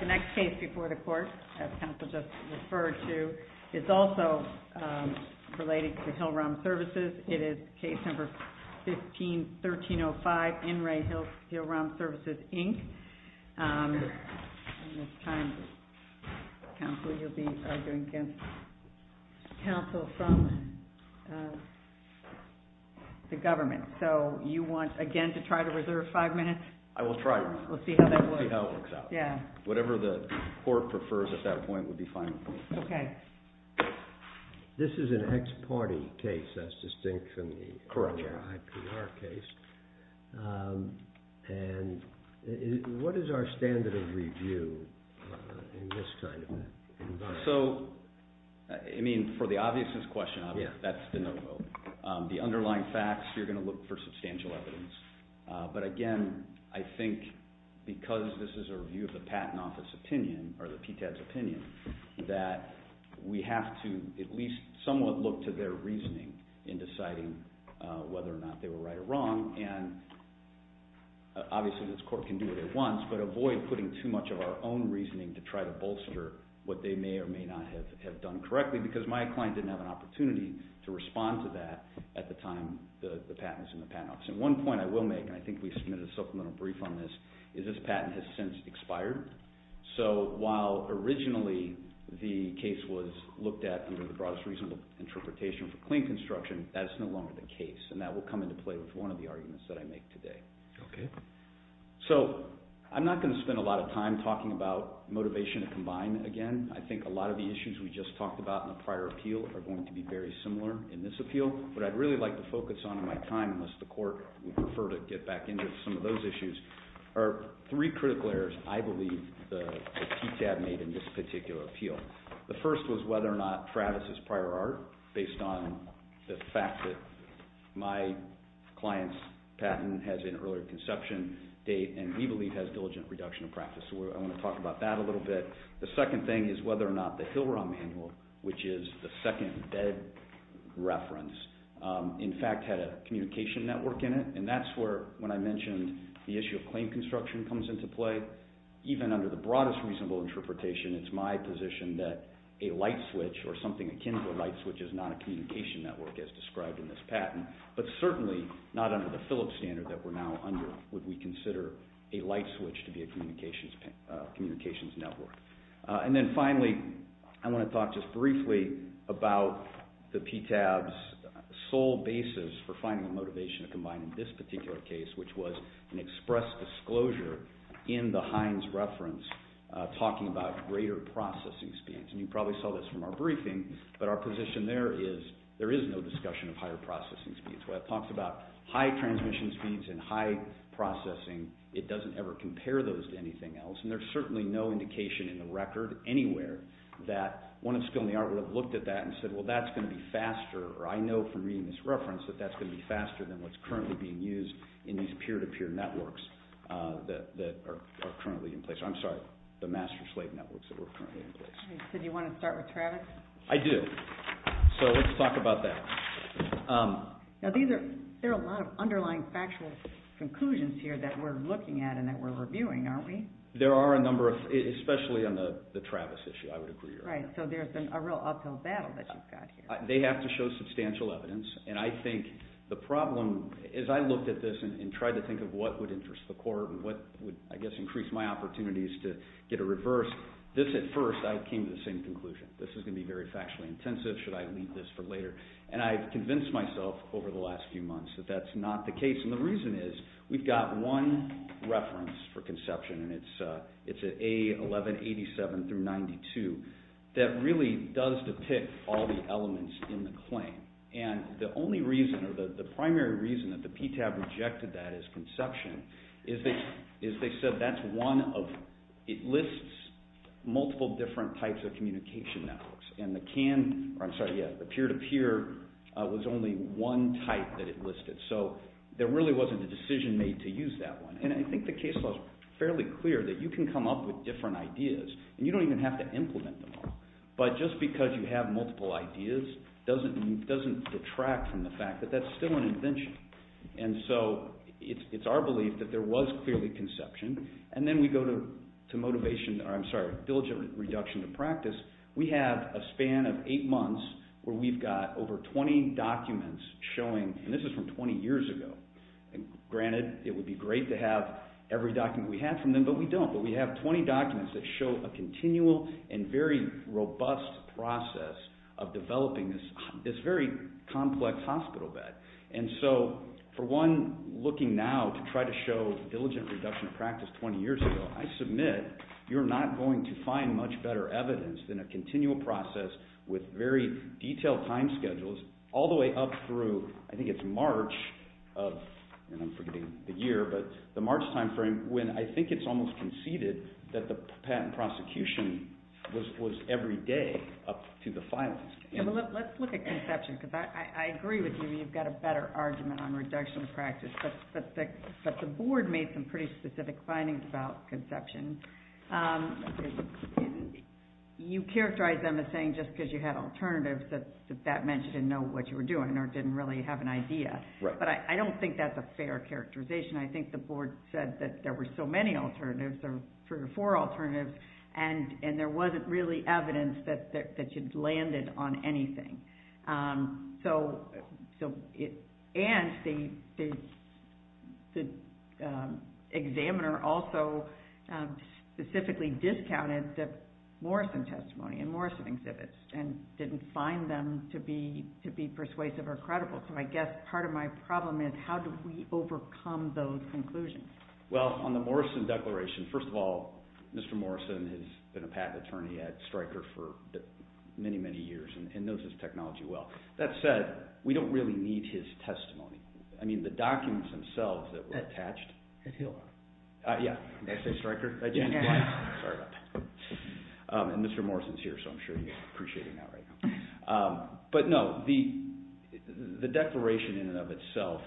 The next case before the court, as counsel just referred to, is also related to Hill-Rom Services. It is case number 15-1305, In Re Hill-Rom Services, Inc. And this time, counsel, you'll be arguing against counsel from the government. So you want, again, to try to reserve five minutes? I will try to. We'll see how that works. We'll see how it works out. Yeah. Whatever the court prefers at that point would be fine with me. Okay. This is an ex parte case, as distinct from the IPR case. Correct. And what is our standard of review in this kind of environment? So, I mean, for the obviousness question, that's de novo. The underlying facts, you're going to look for substantial evidence. But again, I think because this is a review of the Patent Office opinion, or the PTED's opinion, that we have to at least somewhat look to their reasoning in deciding whether or not they were right or wrong. And obviously this court can do it at once, but avoid putting too much of our own reasoning to try to bolster what they may or may not have done correctly, because my client didn't have an opportunity to respond to that at the time the patent was in the Patent Office. And one point I will make, and I think we submitted a supplemental brief on this, is this patent has since expired. So, while originally the case was looked at under the broadest reasonable interpretation for clean construction, that is no longer the case. And that will come into play with one of the arguments that I make today. Okay. So, I'm not going to spend a lot of time talking about motivation to combine again. I think a lot of the issues we just talked about in the prior appeal are going to be very similar in this appeal. What I'd really like to focus on in my time, unless the court would prefer to get back into some of those issues, are three critical areas, I believe, that TTAB made in this particular appeal. The first was whether or not Travis's prior art, based on the fact that my client's patent has an earlier conception date, and we believe has diligent reduction of practice. So, I want to talk about that a little bit. The second thing is whether or not the Hillron manual, which is the second bed reference, in fact, had a communication network in it. And that's where, when I mentioned the issue of clean construction comes into play, even under the broadest reasonable interpretation, it's my position that a light switch or something akin to a light switch is not a communication network as described in this patent, but certainly not under the Phillips standard that we're now under would we consider a light switch to be a communications network. And then finally, I want to talk just briefly about the PTAB's sole basis for finding a motivation to combine in this particular case, which was an express disclosure in the Hines reference talking about greater processing speeds. And you probably saw this from our briefing, but our position there is there is no discussion of higher processing speeds. When it talks about high transmission speeds and high processing, it doesn't ever compare those to anything else, and there's certainly no indication in the record anywhere that one of Spill and the Art would have looked at that and said, well, that's going to be faster than what's currently being used in these peer-to-peer networks that are currently in place. I'm sorry, the master-slave networks that are currently in place. So do you want to start with Travis? I do. So let's talk about that. Now these are, there are a lot of underlying factual conclusions here that we're looking at and that we're reviewing, aren't we? There are a number of, especially on the Travis issue, I would agree. Right, so there's a real uphill battle that you've got here. They have to show substantial evidence, and I think the problem, as I looked at this and tried to think of what would interest the court and what would, I guess, increase my opportunities to get a reverse, this at first, I came to the same conclusion. This is going to be very factually intensive. Should I leave this for later? And I've convinced myself over the last few months that that's not the case, and the reason is we've got one reference for conception, and it's at A1187 through 92, that really does depict all the elements in the claim. And the only reason, or the primary reason that the PTAB rejected that as conception is they said that's one of, it lists multiple different types of communication networks. And the CAN, or I'm sorry, yeah, the peer-to-peer was only one type that it listed. So there really wasn't a decision made to use that one. And I think the case law is fairly clear that you can come up with different ideas, and you don't even have to implement them all. But just because you have multiple ideas doesn't detract from the fact that that's still an invention. And so it's our belief that there was clearly conception. And then we go to motivation, or I'm sorry, diligent reduction to practice. We have a span of eight months where we've got over 20 documents showing, and this is from 20 years ago. Granted, it would be great to have every document we have from them, but we don't. But we have 20 documents that show a continual and very robust process of developing this very complex hospital bed. And so for one, looking now to try to show diligent reduction of practice 20 years ago, I submit you're not going to find much better evidence than a continual process with very detailed time schedules all the way up through, I think it's March of, and I'm forgetting the year, but the March time frame when I think it's almost conceded that the patent prosecution was every day up to the filings. Let's look at conception, because I agree with you. You've got a better argument on reduction of practice. But the board made some pretty specific findings about conception. You characterized them as saying just because you had alternatives that that meant you didn't know what you were doing or didn't really have an idea. But I don't think that's a fair characterization. I think the board said that there were so many alternatives, three or four alternatives, and there wasn't really evidence that you'd landed on anything. And the examiner also specifically discounted the Morrison testimony and Morrison exhibits and didn't find them to be persuasive or credible. So I guess part of my problem is how do we overcome those conclusions? Well, on the Morrison declaration, first of all, Mr. Morrison has been a patent attorney at Stryker for many, many years and knows his technology well. That said, we don't really need his testimony. I mean, the documents themselves that were attached. At Hill. Yeah. Did I say Stryker? Yeah. Sorry about that. And Mr. Morrison's here, so I'm sure he's appreciating that right now. But no, the declaration in and of itself,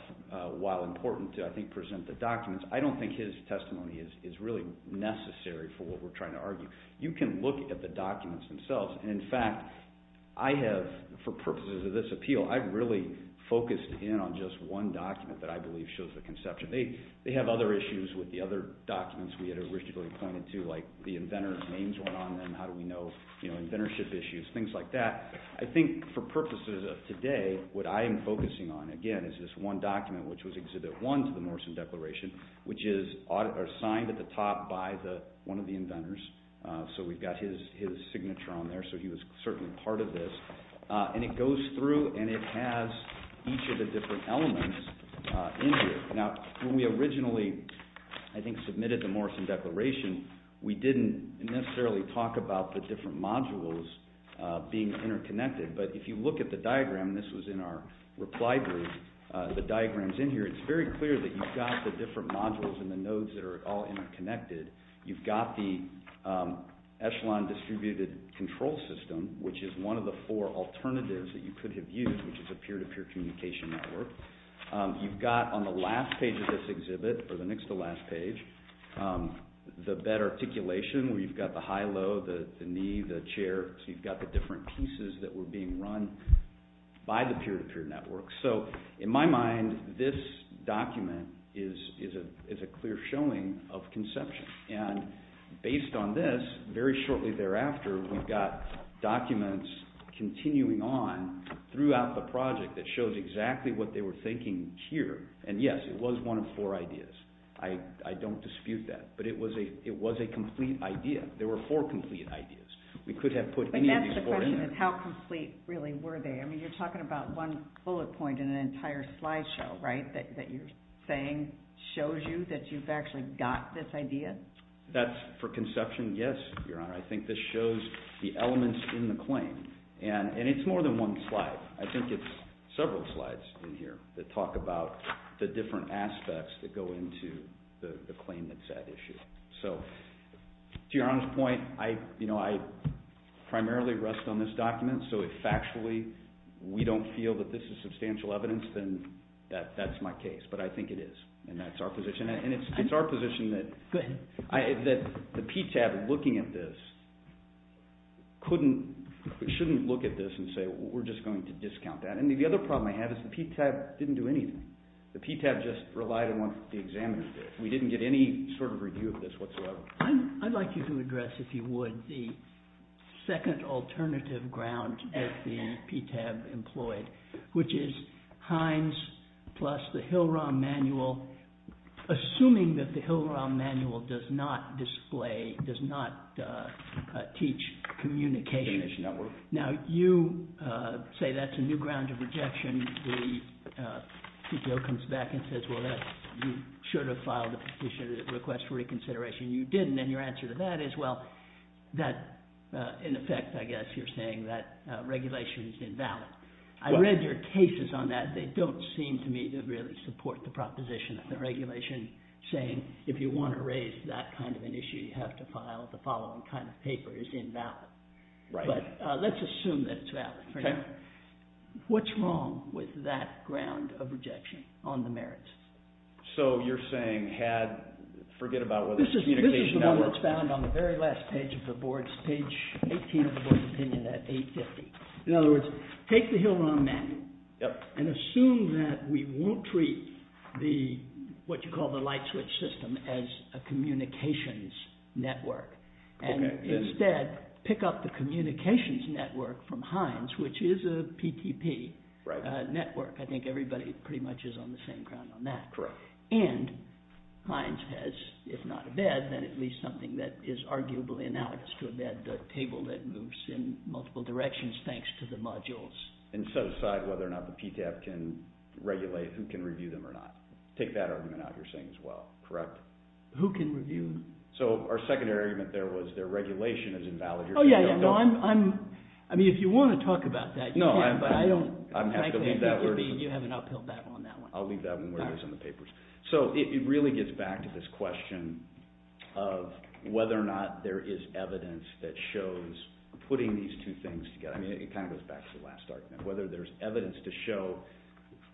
while important to, I think, present the documents, I don't think his testimony is really necessary for what we're trying to argue. You can look at the documents themselves, and in fact, I have, for purposes of this appeal, I've really focused in on just one document that I believe shows the conception. They have other issues with the other documents we had originally pointed to, like the inventor's issues, things like that. I think for purposes of today, what I am focusing on, again, is this one document, which was Exhibit 1 to the Morrison Declaration, which is signed at the top by one of the inventors. So we've got his signature on there, so he was certainly part of this. And it goes through and it has each of the different elements in here. Now, when we originally, I think, submitted the Morrison Declaration, we didn't necessarily talk about the different modules being interconnected. But if you look at the diagram, and this was in our reply brief, the diagrams in here, it's very clear that you've got the different modules and the nodes that are all interconnected. You've got the Echelon Distributed Control System, which is one of the four alternatives that you could have used, which is a peer-to-peer communication network. You've got, on the last page of this exhibit, or the next to last page, the bed articulation, where you've got the high-low, the knee, the chair, so you've got the different pieces that were being run by the peer-to-peer network. So, in my mind, this document is a clear showing of conception. And based on this, very shortly thereafter, we've got documents continuing on throughout the project that shows exactly what they were thinking here. And yes, it was one of four ideas. I don't dispute that. But it was a complete idea. There were four complete ideas. We could have put any of these four in there. But that's the question, is how complete, really, were they? I mean, you're talking about one bullet point in an entire slideshow, right, that you're saying shows you that you've actually got this idea? That's for conception, yes, Your Honor. I think this shows the elements in the claim. And it's more than one slide. I think it's several slides in here that talk about the different aspects that go into the claim that's at issue. So, to Your Honor's point, I primarily rest on this document, so if factually we don't feel that this is substantial evidence, then that's my case. But I think it is, and that's our position. And it's our position that the PTAB, looking at this, shouldn't look at this and say, well, we're just going to discount that. And the other problem I have is the PTAB didn't do anything. The PTAB just relied on what the examiner did. We didn't get any sort of review of this whatsoever. I'd like you to address, if you would, the second alternative ground that the PTAB employed, which is Hines plus the Hill-Rom manual, assuming that the Hill-Rom manual does not display, does not teach communication. Now, you say that's a new ground of rejection. The CTO comes back and says, well, you should have filed a petition that requests reconsideration. You didn't, and your answer to that is, well, that, in effect, I guess you're saying that regulation is invalid. I read your cases on that. They don't seem to me to really support the proposition of the regulation saying if you want to raise that kind of an issue, you have to file the following kind of paper is invalid. But let's assume that it's valid for now. What's wrong with that ground of rejection on the merits? So you're saying forget about whether the communication… This is the one that's found on the very last page of the board's, page 18 of the board's opinion at 850. In other words, take the Hill-Rom manual and assume that we won't treat what you call the light switch system as a communications network, and instead pick up the communications network from Heinz, which is a PTP network. I think everybody pretty much is on the same ground on that. And Heinz has, if not a bed, then at least something that is arguably analogous to a bed, a table that moves in multiple directions thanks to the modules. And set aside whether or not the PTAB can regulate, who can review them or not. Take that argument out you're saying as well, correct? Who can review them? So our secondary argument there was their regulation is invalid. I mean, if you want to talk about that, you can, but I don't… I'm happy to leave that word. You have an uphill battle on that one. I'll leave that one where it is in the papers. So it really gets back to this question of whether or not there is evidence that shows putting these two things together. I mean, it kind of goes back to the last argument. Whether there's evidence to show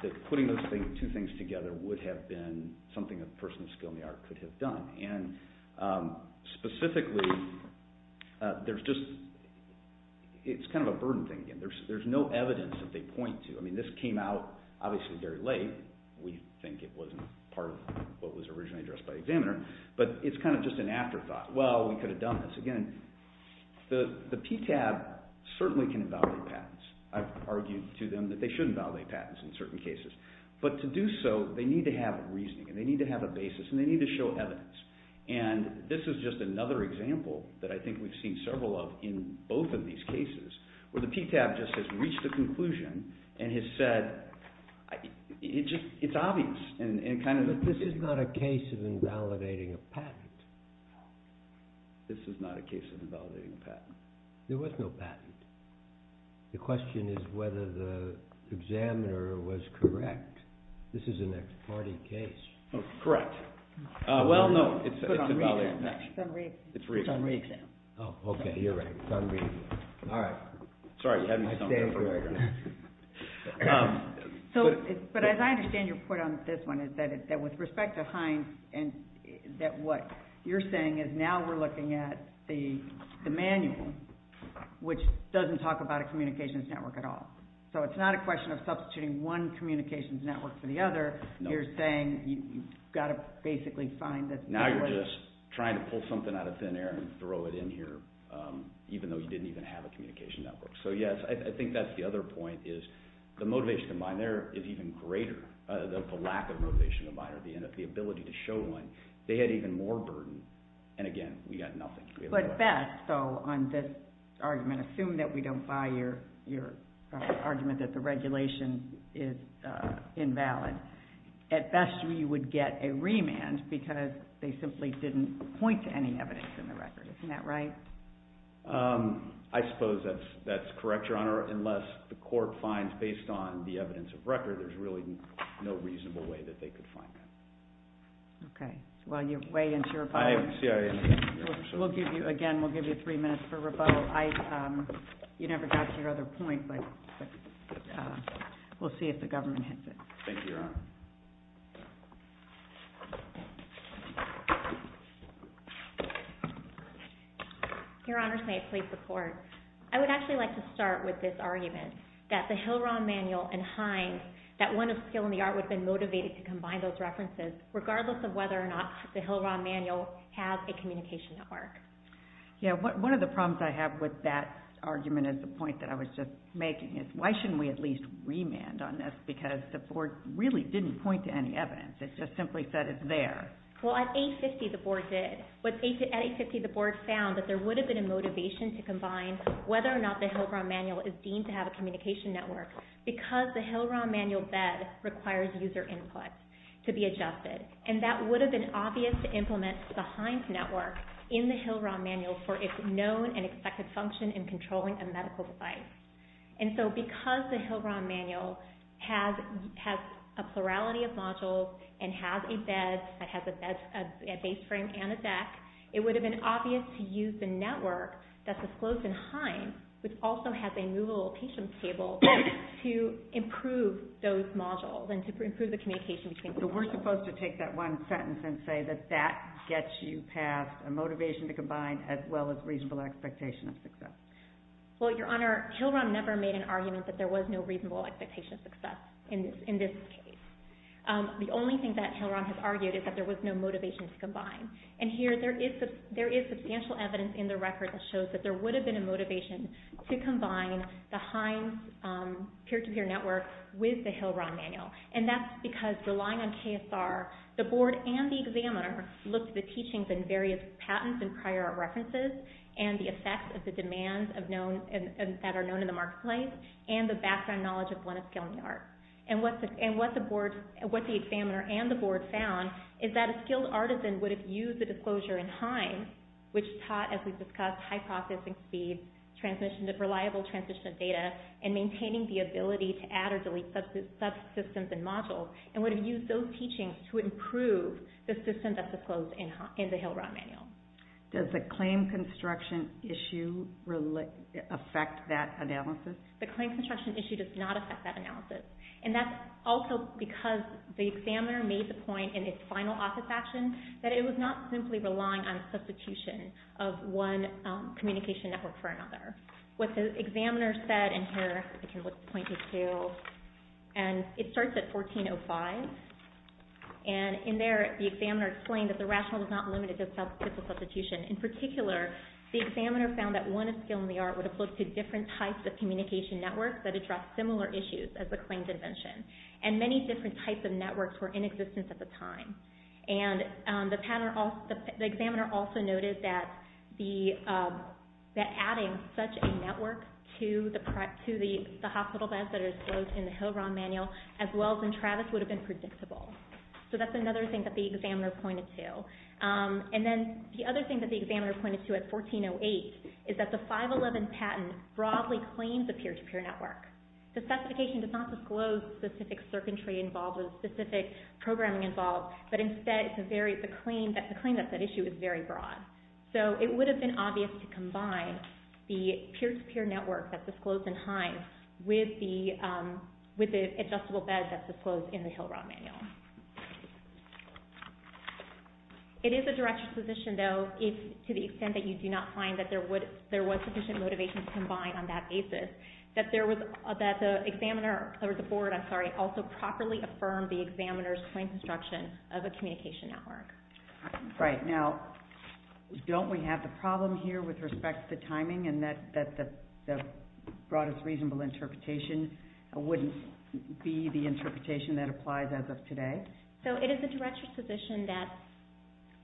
that putting those two things together would have been something a person of skill in the art could have done. And specifically, there's just… it's kind of a burden thing again. There's no evidence that they point to. I mean, this came out obviously very late. We think it wasn't part of what was originally addressed by the examiner. But it's kind of just an afterthought. Well, we could have done this again. The PTAB certainly can invalidate patents. I've argued to them that they shouldn't validate patents in certain cases. But to do so, they need to have a reasoning and they need to have a basis and they need to show evidence. And this is just another example that I think we've seen several of in both of these cases where the PTAB just has reached a conclusion and has said it's obvious and kind of… This is not a case of invalidating a patent. This is not a case of invalidating a patent. There was no patent. The question is whether the examiner was correct. This is an ex parte case. Correct. Well, no, it's invalidating a patent. It's on re-exam. Oh, okay, you're right. It's on re-exam. All right. Sorry, you had me somewhere. But as I understand your point on this one is that with respect to Heinz, that what you're saying is now we're looking at the manual, which doesn't talk about a communications network at all. So it's not a question of substituting one communications network for the other. You're saying you've got to basically find this network. Now you're just trying to pull something out of thin air and throw it in here even though you didn't even have a communications network. So, yes, I think that's the other point is the motivation to mine there is even greater, the lack of motivation to mine at the end of the ability to show one. They had even more burden. And, again, we got nothing. But best, though, on this argument, assume that we don't buy your argument that the regulation is invalid, at best we would get a remand because they simply didn't point to any evidence in the record. Isn't that right? I suppose that's correct, Your Honor, unless the court finds based on the evidence of record there's really no reasonable way that they could find that. Okay. Well, you're way into your point. Again, we'll give you three minutes for rebuttal. You never got to your other point, but we'll see if the government hits it. Thank you, Your Honor. Your Honors, may it please the Court. I would actually like to start with this argument that the Hill-Rand Manual and Hines, that one of skill and the art would have been motivated to combine those references, regardless of whether or not the Hill-Rand Manual has a communication network. Yeah, one of the problems I have with that argument is the point that I was just making, is why shouldn't we at least remand on this because the board really didn't point to any evidence. It just simply said it's there. Well, at 850 the board did. At 850 the board found that there would have been a motivation to combine whether or not the Hill-Rand Manual is deemed to have a communication network because the Hill-Rand Manual bed requires user input to be adjusted. And that would have been obvious to implement the Hines Network in the Hill-Rand Manual for its known and expected function in controlling a medical device. And so because the Hill-Rand Manual has a plurality of modules and has a bed, that has a base frame and a deck, it would have been obvious to use the network that's disclosed in Hines, which also has a movable patient table, to improve those modules and to improve the communication between the modules. So we're supposed to take that one sentence and say that that gets you past a motivation to combine as well as reasonable expectation of success. Well, Your Honor, Hill-Rand never made an argument that there was no reasonable expectation of success in this case. The only thing that Hill-Rand has argued is that there was no motivation to combine. And here there is substantial evidence in the record that shows that there would have been a motivation to combine the Hines Peer-to-Peer Network with the Hill-Rand Manual. And that's because relying on KSR, the board and the examiner looked at the teachings and various patents and prior art references and the effects of the demands that are known in the marketplace and the background knowledge of Gwyneth Gilman Art. And what the examiner and the board found is that a skilled artisan would have used the disclosure in Hines, which taught, as we've discussed, high processing speed, reliable transmission of data, and maintaining the ability to add or delete subsystems and modules, and would have used those teachings to improve the system that's disclosed in the Hill-Rand Manual. Does the claim construction issue affect that analysis? The claim construction issue does not affect that analysis. And that's also because the examiner made the point in its final office action that it was not simply relying on substitution of one communication network for another. What the examiner said, and here I can point to Hill, and it starts at 1405, and in there the examiner explained that the rationale was not limited to the substitution. In particular, the examiner found that one skill in the art would have looked at different types of communication networks that addressed similar issues as the claims invention. And many different types of networks were in existence at the time. And the examiner also noted that adding such a network to the hospital beds that are disclosed in the Hill-Rand Manual, as well as in Travis, would have been predictable. So that's another thing that the examiner pointed to. And then the other thing that the examiner pointed to at 1408 is that the 511 patent broadly claims a peer-to-peer network. The specification does not disclose specific circuitry involved or specific programming involved, but instead the claim that's at issue is very broad. So it would have been obvious to combine the peer-to-peer network that's disclosed in Hines with the adjustable beds that's disclosed in the Hill-Rand Manual. It is a direct disposition, though, to the extent that you do not find that there was sufficient motivation to combine on that basis, that the board also properly affirmed the examiner's claim construction of a communication network. Right. Now, don't we have the problem here with respect to timing and that the broadest reasonable interpretation wouldn't be the interpretation that applies as of today? So it is a direct disposition that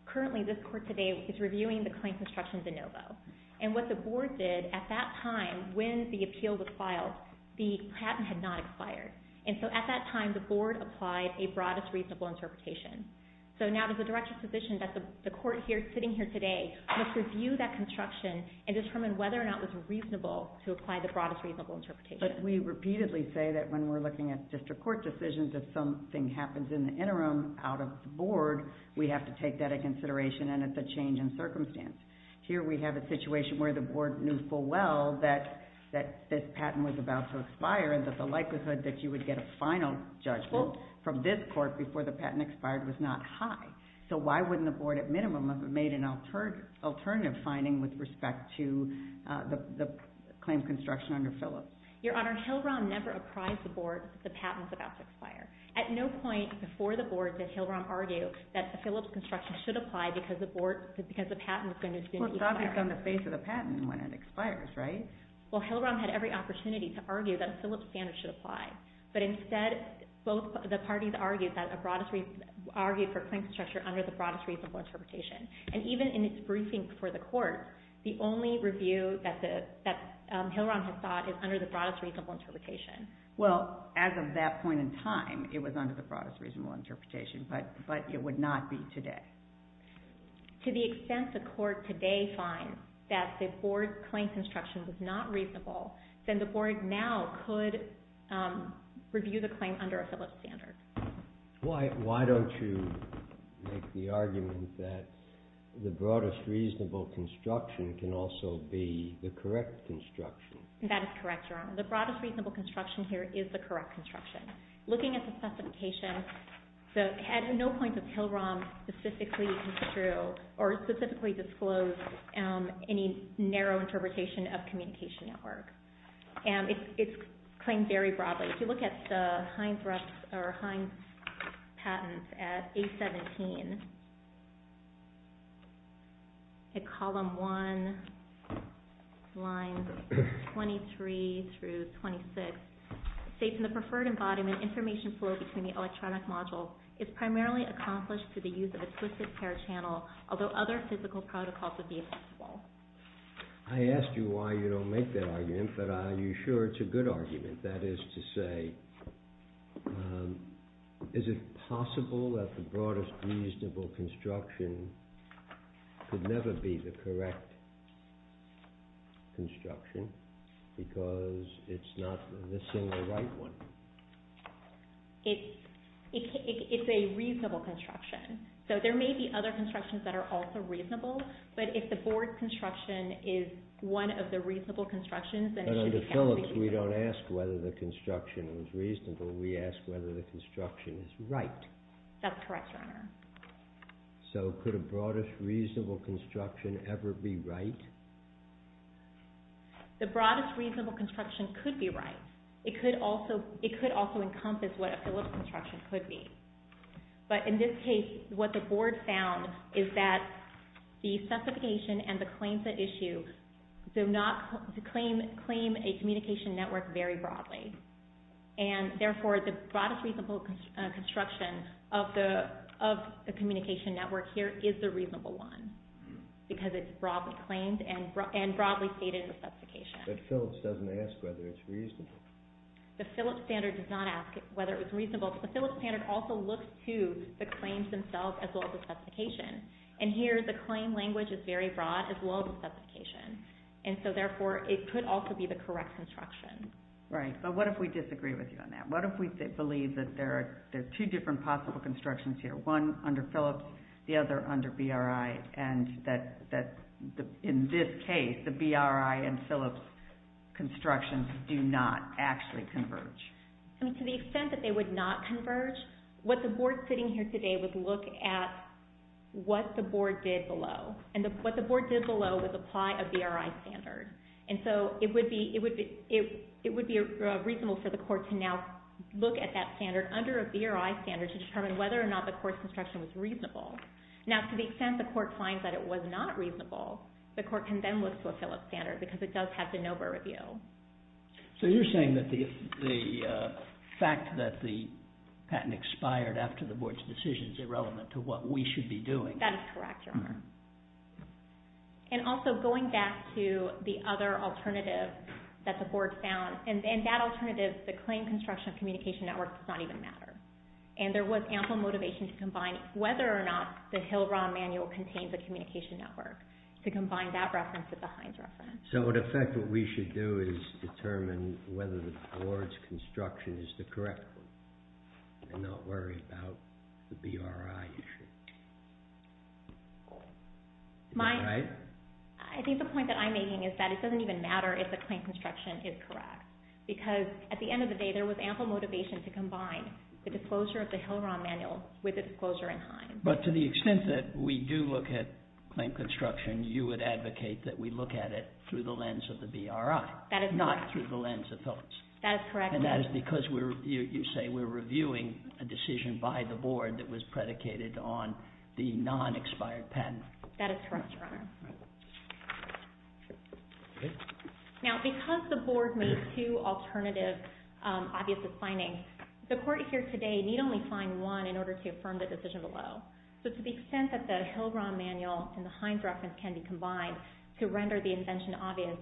currently this court today is reviewing the claim construction de novo. And what the board did at that time when the appeal was filed, the patent had not expired. And so at that time the board applied a broadest reasonable interpretation. So now it is a direct disposition that the court here sitting here today must review that construction and determine whether or not it was reasonable to apply the broadest reasonable interpretation. But we repeatedly say that when we're looking at district court decisions, if something happens in the interim out of the board, we have to take that into consideration, and it's a change in circumstance. Here we have a situation where the board knew full well that this patent was about to expire and that the likelihood that you would get a final judgment from this court before the patent expired was not high. So why wouldn't the board at minimum have made an alternative finding with respect to the claim construction under Phillips? Your Honor, Hill-Rom never apprised the board that the patent was about to expire. At no point before the board did Hill-Rom argue that a Phillips construction should apply because the patent was going to be expired. Well, it's obvious on the face of the patent when it expires, right? Well, Hill-Rom had every opportunity to argue that a Phillips standard should apply. But instead, both the parties argued for claims construction under the broadest reasonable interpretation. And even in its briefing for the court, the only review that Hill-Rom had thought is under the broadest reasonable interpretation. Well, as of that point in time, it was under the broadest reasonable interpretation, but it would not be today. To the extent the court today finds that the board's claims construction was not reasonable, then the board now could review the claim under a Phillips standard. Why don't you make the argument that the broadest reasonable construction can also be the correct construction? That is correct, Your Honor. The broadest reasonable construction here is the correct construction. Looking at the specification, at no point did Hill-Rom specifically construe or specifically disclose any narrow interpretation of communication at work. It's claimed very broadly. If you look at the Heinz patents at A17, at column 1, lines 23 through 26, states in the preferred embodiment, information flow between the electronic modules is primarily accomplished through the use of a twisted pair channel, although other physical protocols would be accessible. I asked you why you don't make that argument, but are you sure it's a good argument? That is to say, is it possible that the broadest reasonable construction could never be the correct construction, because it's not the single right one? It's a reasonable construction. So there may be other constructions that are also reasonable, but if the board's construction is one of the reasonable constructions, But under Phillips, we don't ask whether the construction is reasonable, we ask whether the construction is right. That's correct, Your Honor. So could a broadest reasonable construction ever be right? The broadest reasonable construction could be right. It could also encompass what a Phillips construction could be. But in this case, what the board found is that the specification and the claims at issue do not claim a communication network very broadly. And therefore, the broadest reasonable construction of the communication network here is the reasonable one, because it's broadly claimed and broadly stated in the specification. But Phillips doesn't ask whether it's reasonable. The Phillips standard does not ask whether it's reasonable. The Phillips standard also looks to the claims themselves as well as the specification. And here, the claim language is very broad as well as the specification. And so therefore, it could also be the correct construction. Right, but what if we disagree with you on that? What if we believe that there are two different possible constructions here, one under Phillips, the other under BRI, and that in this case, the BRI and Phillips constructions do not actually converge? To the extent that they would not converge, what the board sitting here today would look at what the board did below. And what the board did below was apply a BRI standard. And so it would be reasonable for the court to now look at that standard under a BRI standard to determine whether or not the court's construction was reasonable. Now, to the extent the court finds that it was not reasonable, the court can then look to a Phillips standard because it does have de novo review. So you're saying that the fact that the patent expired after the board's decision is irrelevant to what we should be doing? That is correct, Your Honor. And also, going back to the other alternative that the board found, and that alternative, the claim construction of communication networks does not even matter. And there was ample motivation to combine whether or not the Hill-Rand manual contains a communication network, to combine that reference with the Hines reference. So, in effect, what we should do is determine whether the board's construction is the correct one and not worry about the BRI issue. I think the point that I'm making is that it doesn't even matter if the claim construction is correct because, at the end of the day, there was ample motivation to combine the disclosure of the Hill-Rand manual with the disclosure in Hines. But to the extent that we do look at claim construction, you would advocate that we look at it through the lens of the BRI, not through the lens of Phillips. That is correct. And that is because you say we're reviewing a decision by the board that was predicated on the non-expired patent. That is correct, Your Honor. Now, because the board made two alternative obvious findings, the court here today need only find one in order to affirm the decision below. So, to the extent that the Hill-Rand manual and the Hines reference can be combined to render the invention obvious,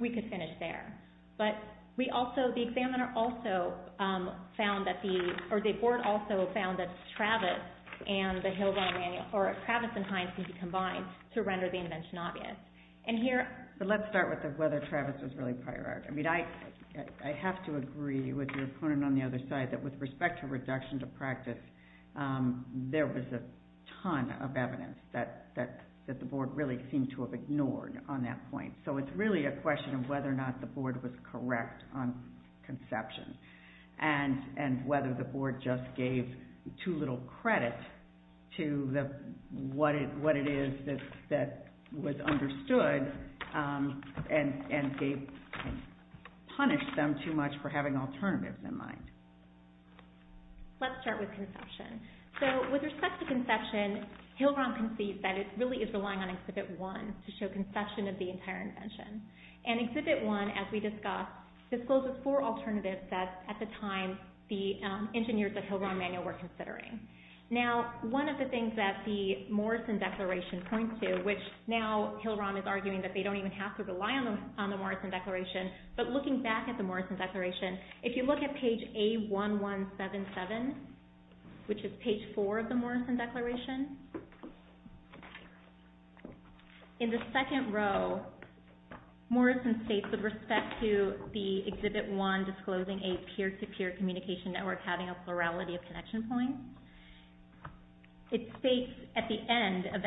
we could finish there. But we also, the examiner also found that the, or the board also found that Travis and the Hill-Rand manual, or Travis and Hines can be combined to render the invention obvious. And here... But let's start with whether Travis was really prior art. I mean, I have to agree with your opponent on the other side that with respect to reduction to practice, there was a ton of evidence that the board really seemed to have ignored on that point. So it's really a question of whether or not the board was correct on conception and whether the board just gave too little credit to what it is that was understood and punished them too much for having alternatives in mind. Let's start with conception. So, with respect to conception, Hill-Rand concedes that it really is relying on Exhibit 1 to show conception of the entire invention. And Exhibit 1, as we discussed, discloses four alternatives that, at the time, the engineers at Hill-Rand manual were considering. Now, one of the things that the Morrison Declaration points to, which now Hill-Rand is arguing that they don't even have to rely on the Morrison Declaration, but looking back at the Morrison Declaration, if you look at page A1177, which is page 4 of the Morrison Declaration, in the second row, Morrison states, with respect to the Exhibit 1 disclosing a peer-to-peer communication network having a plurality of connection points, it states at the end of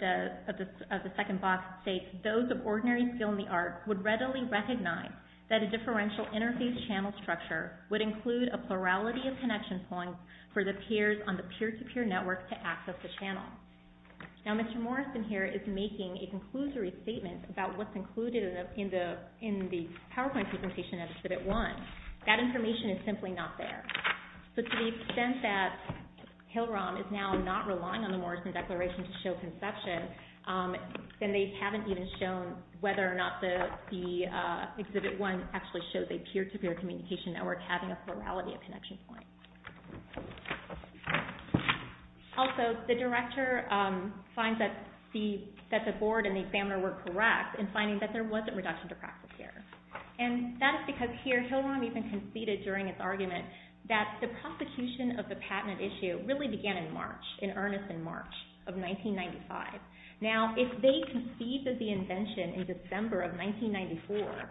the second box, those of ordinary skill in the arts would readily recognize that a differential interface channel structure would include a plurality of connection points for the peers on the peer-to-peer network to access the channel. Now, Mr. Morrison here is making a conclusory statement about what's included in the PowerPoint presentation of Exhibit 1. That information is simply not there. So, to the extent that Hill-Rand is now not relying on the Morrison Declaration to show conception, then they haven't even shown whether or not the Exhibit 1 actually shows a peer-to-peer communication network having a plurality of connection points. Also, the director finds that the board and the examiner were correct in finding that there was a reduction to practice errors. And that is because here, Hill-Rand even conceded during his argument that the prosecution of the patent issue really began in March, in earnest in March of 1995. Now, if they conceded the invention in December of 1994,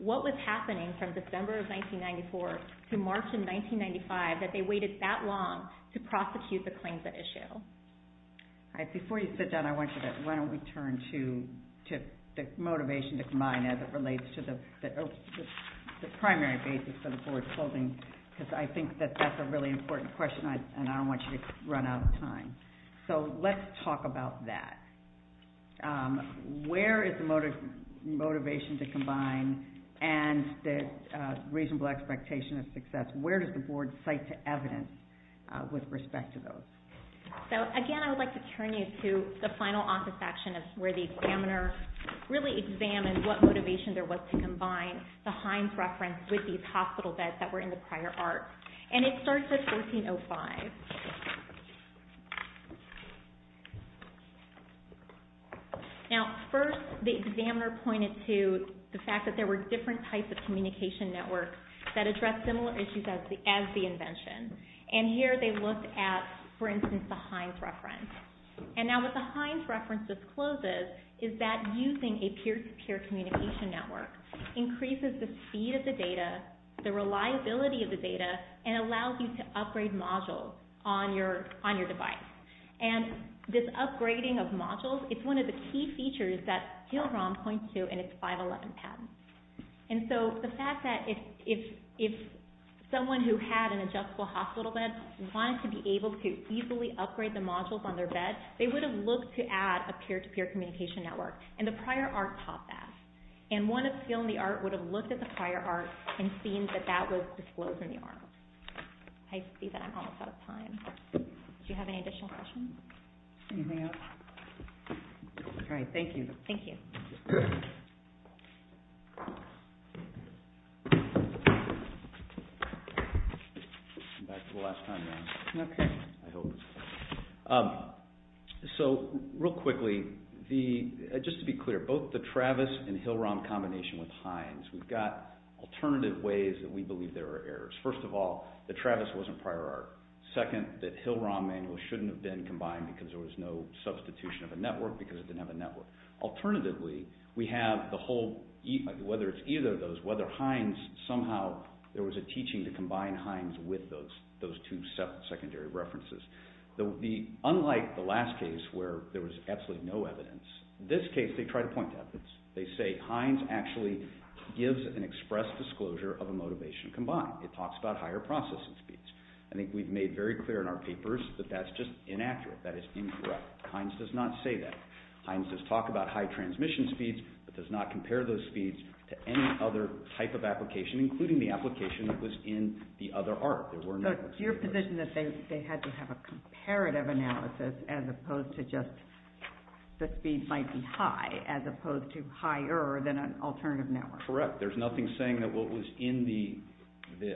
what was happening from December of 1994 to March of 1995 that they waited that long to prosecute the claims at issue? Before you sit down, I want you to, why don't we turn to the motivation to combine as it relates to the primary basis of the board's holding, because I think that that's a really important question and I don't want you to run out of time. So, let's talk about that. Where is the motivation to combine and the reasonable expectation of success? Where does the board cite to evidence with respect to those? So, again, I would like to turn you to the final office action where the examiner really examined what motivation there was to combine the Hines reference with these hospital beds that were in the prior art. And it starts at 1405. Now, first the examiner pointed to the fact that there were different types of communication networks that addressed similar issues as the invention. And here they looked at, for instance, the Hines reference. And now what the Hines reference discloses is that using a peer-to-peer communication network increases the speed of the data, the reliability of the data, and allows you to upgrade modules on your device. And this upgrading of modules is one of the key features that Gilram points to in its 511 patent. And so the fact that if someone who had an adjustable hospital bed wanted to be able to easily upgrade the modules on their bed, they would have looked to add a peer-to-peer communication network. And the prior art taught that. And one of Gil and the art would have looked at the prior art and seen that that was disclosed in the art. I see that I'm almost out of time. Do you have any additional questions? Anything else? All right, thank you. Thank you. So real quickly, just to be clear, both the Travis and Gilram combination with Hines, we've got alternative ways that we believe there are errors. First of all, the Travis wasn't prior art. Second, that Gilram manual shouldn't have been combined because there was no substitution of a network because it didn't have a network. Alternatively, we have the whole, whether it's either of those, whether Hines somehow, there was a teaching to combine Hines with those two secondary references. Unlike the last case where there was absolutely no evidence, this case they try to point to evidence. They say Hines actually gives an express disclosure of a motivation combined. It talks about higher processing speeds. I think we've made very clear in our papers that that's just inaccurate. That is incorrect. Hines does not say that. Hines does talk about high transmission speeds, but does not compare those speeds to any other type of application, including the application that was in the other art. So it's your position that they had to have a comparative analysis as opposed to just the speed might be high as opposed to higher than an alternative network. Correct. There's nothing saying that what was in the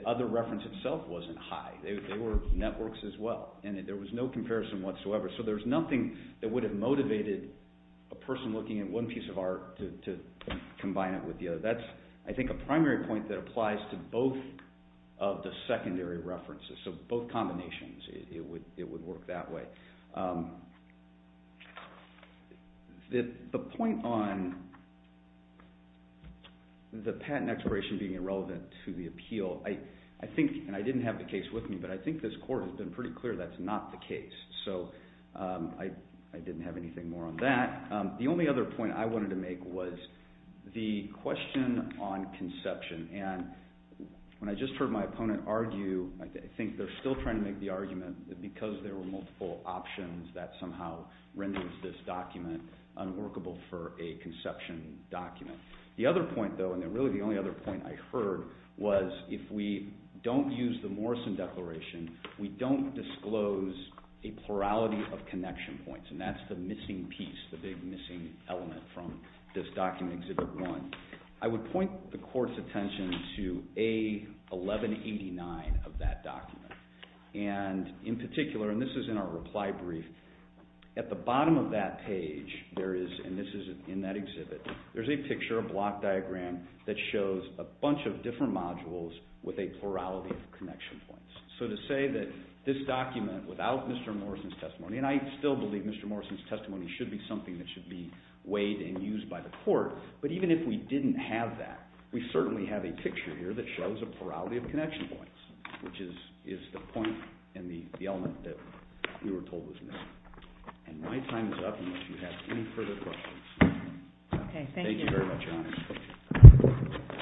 other reference itself wasn't high. They were networks as well, and there was no comparison whatsoever. So there's nothing that would have motivated a person looking at one piece of art to combine it with the other. That's, I think, a primary point that applies to both of the secondary references, so both combinations it would work that way. The point on the patent expiration being irrelevant to the appeal, I think, and I didn't have the case with me, but I think this court has been pretty clear that's not the case. So I didn't have anything more on that. The only other point I wanted to make was the question on conception, and when I just heard my opponent argue, I think they're still trying to make the argument that because there were multiple options that somehow renders this document unworkable for a conception document. The other point, though, and really the only other point I heard, was if we don't use the Morrison Declaration, we don't disclose a plurality of connection points, and that's the missing piece, the big missing element from this document, Exhibit 1. I would point the court's attention to A1189 of that document, and in particular, and this is in our reply brief, at the bottom of that page, and this is in that exhibit, there's a picture, a block diagram, that shows a bunch of different modules with a plurality of connection points. So to say that this document, without Mr. Morrison's testimony, and I still believe Mr. Morrison's testimony should be something that should be weighed and used by the court, but even if we didn't have that, we certainly have a picture here that shows a plurality of connection points, which is the point and the element that we were told was missing. And my time is up unless you have any further questions. Okay, thank you.